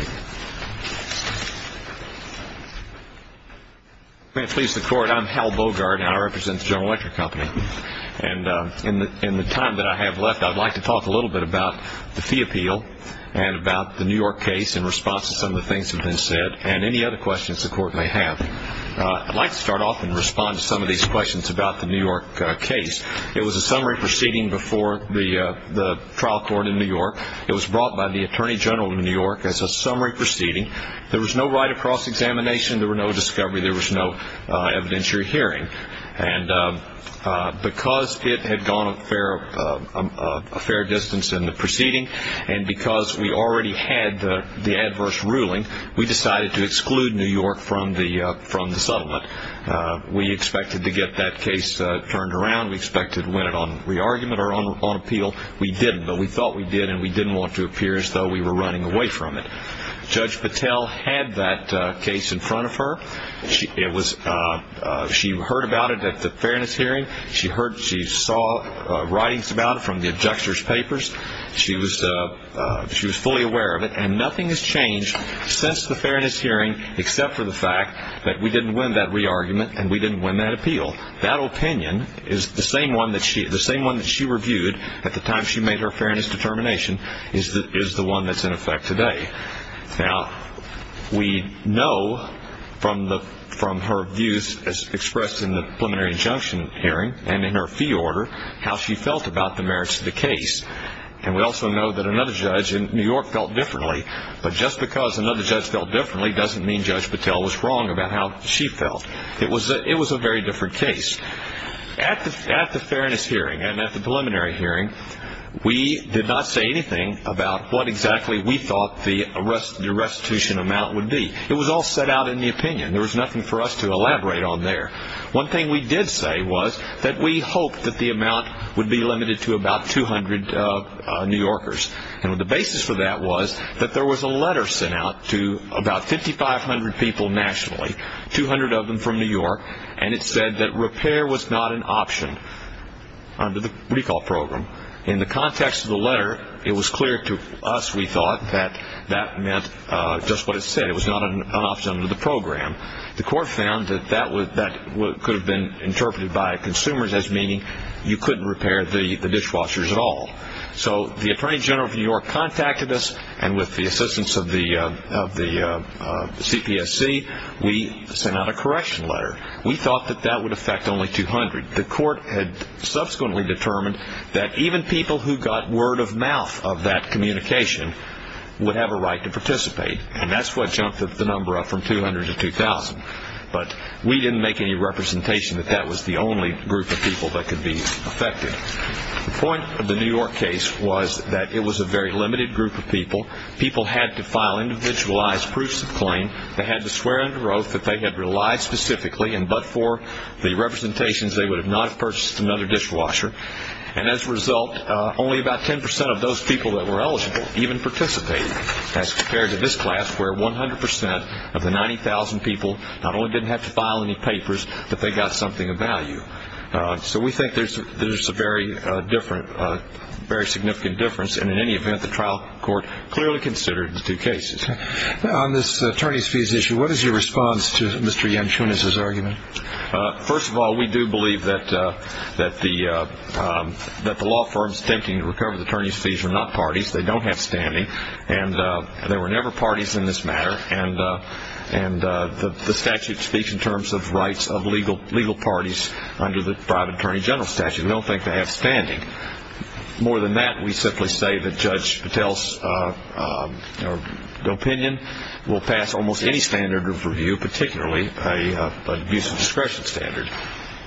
May it please the Court, I'm Hal Bogart, and I represent the General Electric Company. And in the time that I have left, I'd like to talk a little bit about the fee appeal and about the New York case in response to some of the things that have been said, and any other questions the Court may have. I'd like to start off and respond to some of these questions about the New York case. It was a summary proceeding before the trial court in New York. It was brought by the Attorney General of New York as a summary proceeding. There was no right of cross-examination. There was no discovery. There was no evidentiary hearing. And because it had gone a fair distance in the proceeding, and because we already had the adverse ruling, we decided to exclude New York from the settlement. We expected to get that case turned around. We expected to win it on re-argument or on appeal. We didn't, but we thought we did, and we didn't want to appear as though we were running away from it. Judge Patel had that case in front of her. She heard about it at the fairness hearing. She saw writings about it from the abjector's papers. She was fully aware of it. And nothing has changed since the fairness hearing except for the fact that we didn't win that re-argument and we didn't win that appeal. That opinion is the same one that she reviewed at the time she made her fairness determination is the one that's in effect today. Now, we know from her views expressed in the preliminary injunction hearing and in her fee order how she felt about the merits of the case. And we also know that another judge in New York felt differently, but just because another judge felt differently doesn't mean Judge Patel was wrong about how she felt. It was a very different case. At the fairness hearing and at the preliminary hearing, we did not say anything about what exactly we thought the restitution amount would be. It was all set out in the opinion. There was nothing for us to elaborate on there. One thing we did say was that we hoped that the amount would be limited to about 200 New Yorkers. And the basis for that was that there was a letter sent out to about 5,500 people nationally, 200 of them from New York, and it said that repair was not an option under the recall program. In the context of the letter, it was clear to us, we thought, that that meant just what it said. It was not an option under the program. The court found that that could have been interpreted by consumers as meaning you couldn't repair the dishwashers at all. So the Attorney General of New York contacted us, and with the assistance of the CPSC, we sent out a correction letter. We thought that that would affect only 200. The court had subsequently determined that even people who got word of mouth of that communication would have a right to participate, and that's what jumped the number up from 200 to 2,000. But we didn't make any representation that that was the only group of people that could be affected. The point of the New York case was that it was a very limited group of people. People had to file individualized proofs of claim. They had to swear under oath that they had relied specifically, and but for the representations, they would have not purchased another dishwasher. And as a result, only about 10% of those people that were eligible even participated, as compared to this class where 100% of the 90,000 people not only didn't have to file any papers, but they got something of value. So we think there's a very different, very significant difference, and in any event, the trial court clearly considered the two cases. On this attorney's fees issue, what is your response to Mr. Yanchunas' argument? First of all, we do believe that the law firms attempting to recover the attorney's fees are not parties. They don't have standing, and there were never parties in this matter, and the statute speaks in terms of rights of legal parties under the private attorney general statute. We don't think they have standing. More than that, we simply say that Judge Patel's opinion will pass almost any standard of review, particularly an abuse of discretion standard.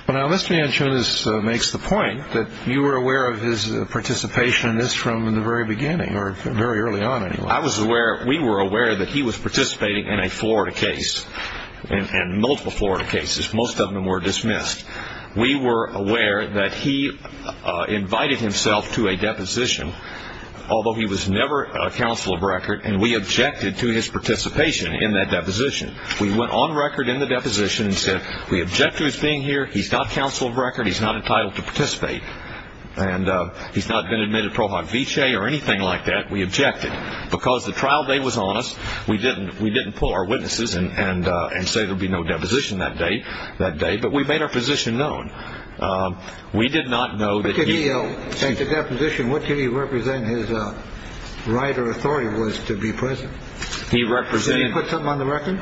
Now, Mr. Yanchunas makes the point that you were aware of his participation in this from the very beginning, or very early on, anyway. I was aware, we were aware that he was participating in a Florida case, and multiple Florida cases. Most of them were dismissed. We were aware that he invited himself to a deposition, although he was never counsel of record, and we objected to his participation in that deposition. We went on record in the deposition and said, we object to his being here, he's not counsel of record, he's not entitled to participate, and he's not been admitted pro hoc vicae or anything like that, we objected. Because the trial day was on us, we didn't pull our witnesses and say there would be no deposition that day, but we made our position known. We did not know that he... What did he represent his right or authority was to be present? Did he put something on the record?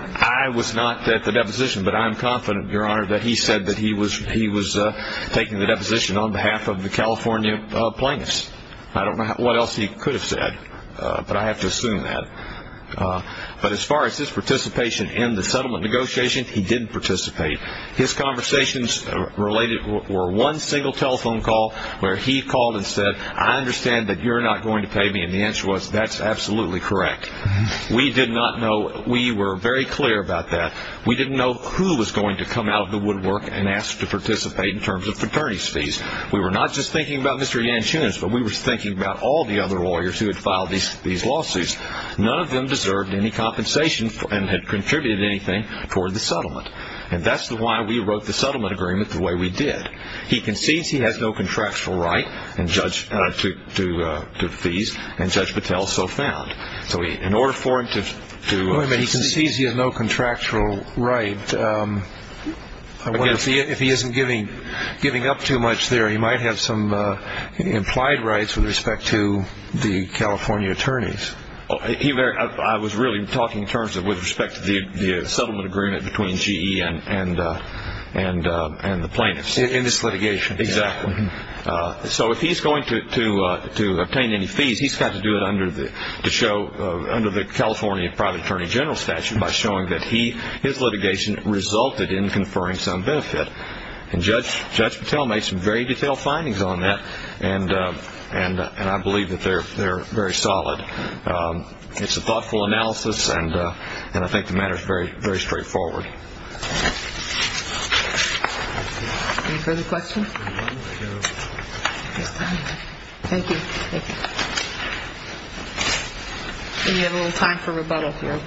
He said that he was taking the deposition on behalf of the California plaintiffs. I don't know what else he could have said, but I have to assume that. But as far as his participation in the settlement negotiation, he didn't participate. His conversations related were one single telephone call where he called and said, I understand that you're not going to pay me, and the answer was, that's absolutely correct. We did not know, we were very clear about that. We didn't know who was going to come out of the woodwork and ask to participate in terms of fraternity's fees. We were not just thinking about Mr. Yanchunas, but we were thinking about all the other lawyers who had filed these lawsuits. None of them deserved any compensation and had contributed anything for the settlement. And that's why we wrote the settlement agreement the way we did. He concedes he has no contractual right to fees, and Judge Patel so found. He concedes he has no contractual right. If he isn't giving up too much there, he might have some implied rights with respect to the California attorneys. I was really talking in terms of with respect to the settlement agreement between GE and the plaintiffs. In this litigation. Exactly. So if he's going to obtain any fees, he's got to do it under the California private attorney general statute by showing that his litigation resulted in conferring some benefit. And Judge Patel made some very detailed findings on that, and I believe that they're very solid. It's a thoughtful analysis, and I think the matter is very straightforward. Any further questions? Thank you. We have a little time for rebuttal here.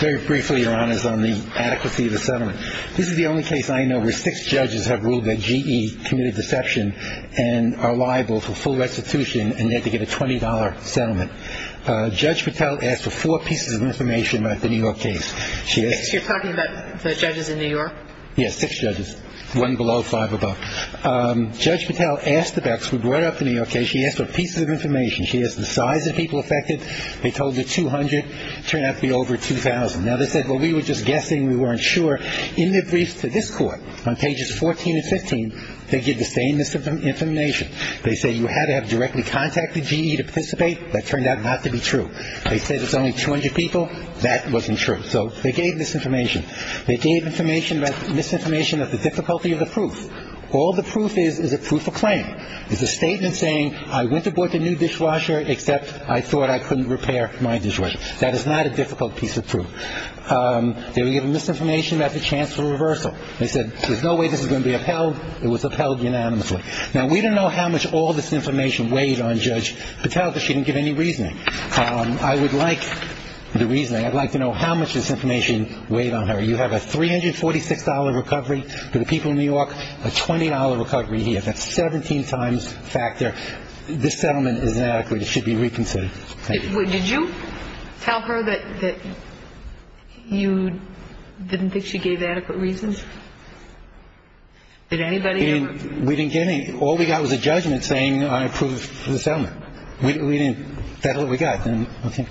Very briefly, Your Honors, on the adequacy of the settlement. This is the only case I know where six judges have ruled that GE committed deception and are liable for full restitution and they had to get a $20 settlement. Judge Patel asked for four pieces of information about the New York case. You're talking about the judges in New York? Yes, six judges. One below, five above. Judge Patel asked the Becks, who brought up the New York case, she asked for pieces of information. She asked the size of people affected. They told her 200. Turned out to be over 2,000. Now, they said, well, we were just guessing. We weren't sure. In their briefs to this Court on pages 14 and 15, they give the same information. They say you had to have directly contacted GE to participate. That turned out not to be true. They say there's only 200 people. That wasn't true. So they gave misinformation. They gave misinformation about the difficulty of the proof. All the proof is is a proof of claim. It's a statement saying I went to board the new dishwasher except I thought I couldn't repair my dishwasher. That is not a difficult piece of proof. They were given misinformation about the chance for reversal. They said there's no way this is going to be upheld. It was upheld unanimously. Now, we don't know how much all this information weighed on Judge Patel because she didn't give any reasoning. I would like the reasoning. I'd like to know how much this information weighed on her. You have a $346 recovery for the people of New York, a $20 recovery here. That's 17 times factor. This settlement is inadequate. It should be reconsidered. Thank you. Did you tell her that you didn't think she gave adequate reasons? Did anybody? We didn't get any. All we got was a judgment saying I approve the settlement. We didn't. That's all we got. Okay.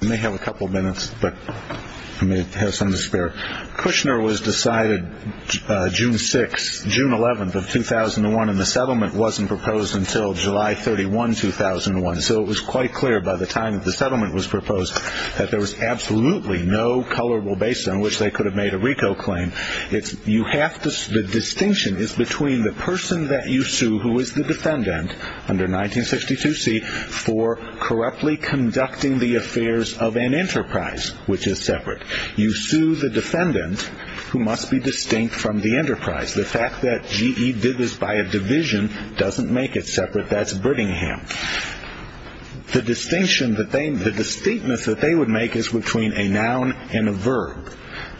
I may have a couple of minutes, but I may have some to spare. Kushner was decided June 6, June 11 of 2001, and the settlement wasn't proposed until July 31, 2001. So it was quite clear by the time that the settlement was proposed that there was absolutely no colorable basis on which they could have made a RICO claim. The distinction is between the person that you sue who is the defendant under 1962C for corruptly conducting the affairs of an enterprise, which is separate. You sue the defendant who must be distinct from the enterprise. The fact that GE did this by a division doesn't make it separate. But that's Brittingham. The distinction, the distinctness that they would make is between a noun and a verb.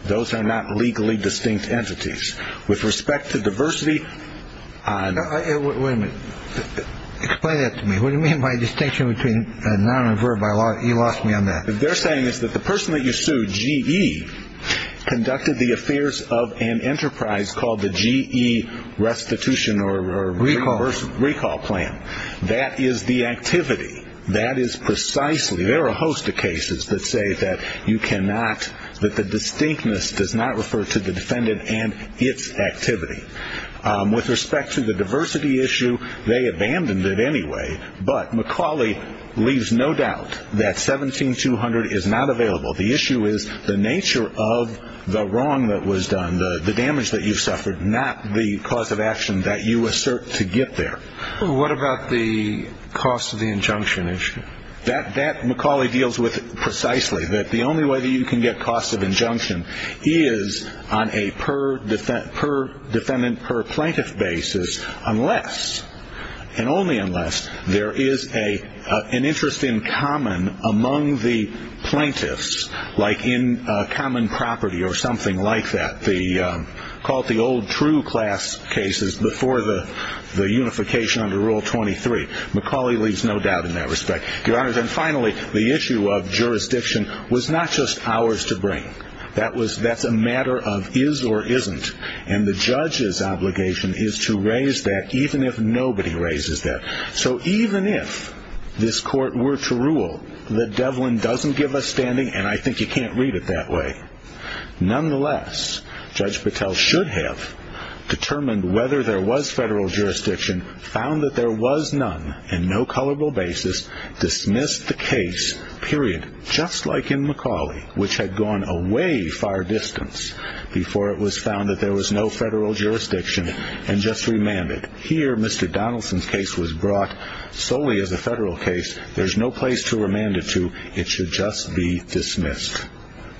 Those are not legally distinct entities. With respect to diversity. Wait a minute. Explain that to me. What do you mean by distinction between a noun and a verb? You lost me on that. What they're saying is that the person that you sued, GE, conducted the affairs of an enterprise called the GE restitution or recall plan. That is the activity. That is precisely. There are a host of cases that say that you cannot, that the distinctness does not refer to the defendant and its activity. With respect to the diversity issue, they abandoned it anyway. But McCauley leaves no doubt that 17200 is not available. The issue is the nature of the wrong that was done, the damage that you suffered, not the cause of action that you assert to get there. What about the cost of the injunction issue? That that McCauley deals with precisely that the only way that you can get cost of injunction is on a per defendant, per defendant, per plaintiff basis. Unless and only unless there is a an interest in common among the plaintiffs, like in common property or something like that. The called the old true class cases before the unification under Rule 23. McCauley leaves no doubt in that respect, Your Honor. And finally, the issue of jurisdiction was not just ours to bring. That was that's a matter of is or isn't. And the judge's obligation is to raise that even if nobody raises that. So even if this court were to rule that Devlin doesn't give a standing and I think you can't read it that way. Nonetheless, Judge Patel should have determined whether there was federal jurisdiction, found that there was none and no colorable basis. Dismissed the case, period. Just like in McCauley, which had gone away far distance before it was found that there was no federal jurisdiction and just remanded. Here, Mr. Donaldson's case was brought solely as a federal case. There's no place to remand it to. It should just be dismissed.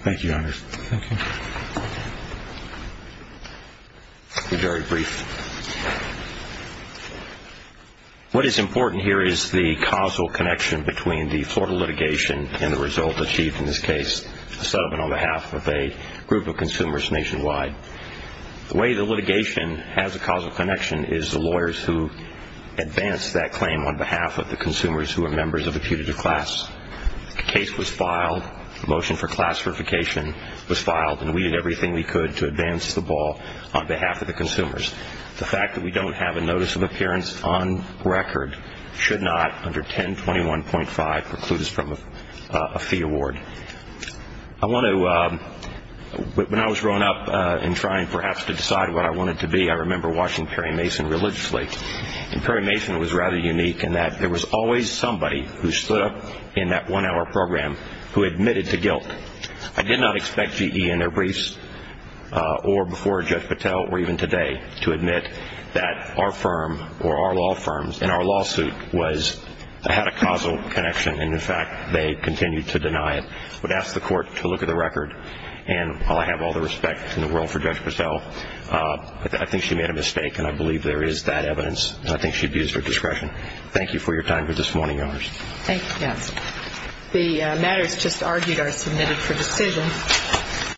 Thank you, Your Honor. Thank you. Very brief. What is important here is the causal connection between the Florida litigation and the result achieved in this case, a settlement on behalf of a group of consumers nationwide. The way the litigation has a causal connection is the lawyers who advance that claim on behalf of the consumers who are members of a putative class. The case was filed, the motion for class certification was filed, and we did everything we could to advance the ball on behalf of the consumers. The fact that we don't have a notice of appearance on record should not, under 1021.5, preclude us from a fee award. When I was growing up and trying perhaps to decide what I wanted to be, I remember watching Perry Mason religiously. And Perry Mason was rather unique in that there was always somebody who stood up in that one-hour program who admitted to guilt. I did not expect GE in their briefs or before Judge Patel or even today to admit that our firm or our law firms in our lawsuit had a causal connection, and, in fact, they continued to deny it. I would ask the court to look at the record, and while I have all the respect in the world for Judge Patel, I think she made a mistake, and I believe there is that evidence, and I think she abused her discretion. Thank you for your time for this morning, yours. Thank you. The matters just argued are submitted for decision.